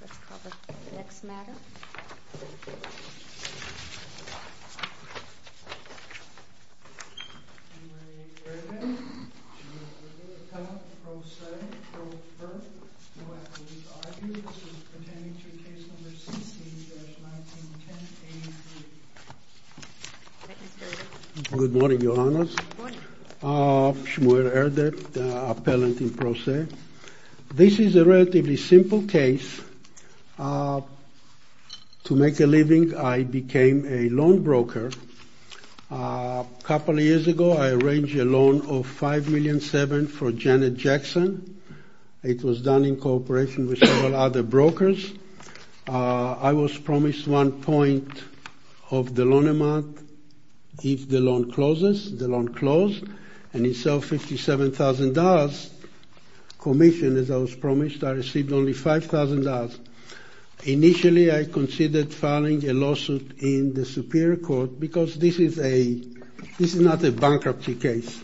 Let's call the next matter. Shmuel Erdek, Shmuel Erdek, Appellant in Pro Se, Pro Firth. You will have to read the arguments pertaining to Case No. 16-1910-83. Thank you, sir. Good morning, Your Honors. Good morning. Shmuel Erdek, Appellant in Pro Se. This is a relatively simple case. To make a living, I became a loan broker. A couple of years ago, I arranged a loan of $5.7 million for Janet Jackson. It was done in cooperation with several other brokers. I was promised one point of the loan amount if the loan closes. And instead of $57,000 commission, as I was promised, I received only $5,000. Initially, I considered filing a lawsuit in the Superior Court because this is not a bankruptcy case.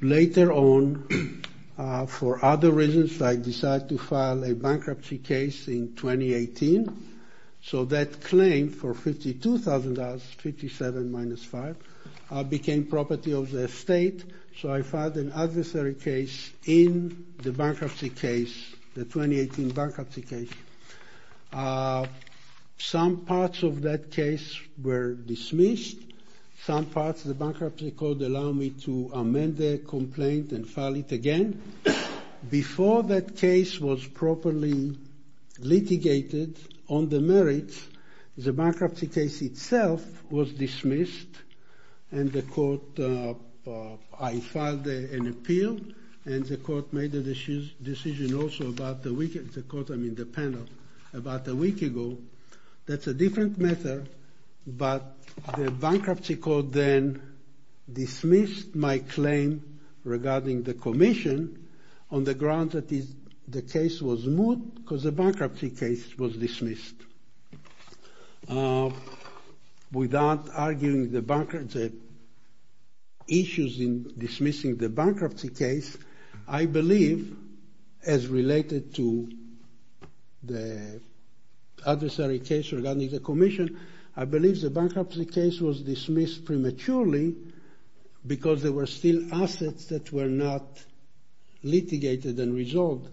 Later on, for other reasons, I decided to file a bankruptcy case in 2018. So that claim for $52,000, 57 minus 5, became property of the state. So I filed an adversary case in the bankruptcy case, the 2018 bankruptcy case. Some parts of that case were dismissed. Some parts of the bankruptcy court allowed me to amend the complaint and file it again. Before that case was properly litigated on the merits, the bankruptcy case itself was dismissed. And the court, I filed an appeal. And the court made a decision also about the week, the court, I mean the panel, about a week ago. That's a different matter, but the bankruptcy court then dismissed my claim regarding the commission on the grounds that the case was moot because the bankruptcy case was dismissed. Without arguing the issues in dismissing the bankruptcy case, I believe, as related to the adversary case regarding the commission, I believe the bankruptcy case was dismissed prematurely because there were still assets that were not litigated and resolved.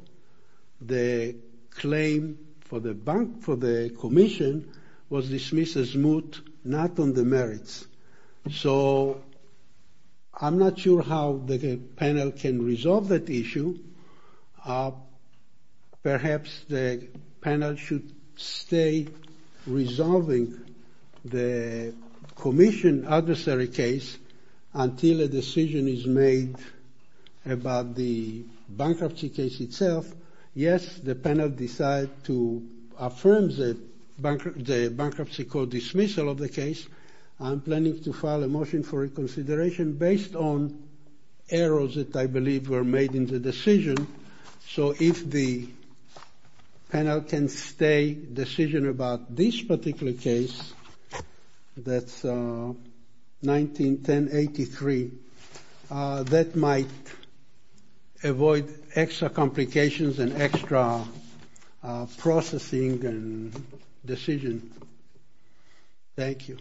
The claim for the commission was dismissed as moot, not on the merits. So I'm not sure how the panel can resolve that issue. Perhaps the panel should stay resolving the commission adversary case until a decision is made about the bankruptcy case itself. Yes, the panel decided to affirm the bankruptcy court dismissal of the case. I'm planning to file a motion for reconsideration based on errors that I believe were made in the decision. So if the panel can stay decision about this particular case, that's 191083, that might avoid extra complications and extra processing and decision. Thank you.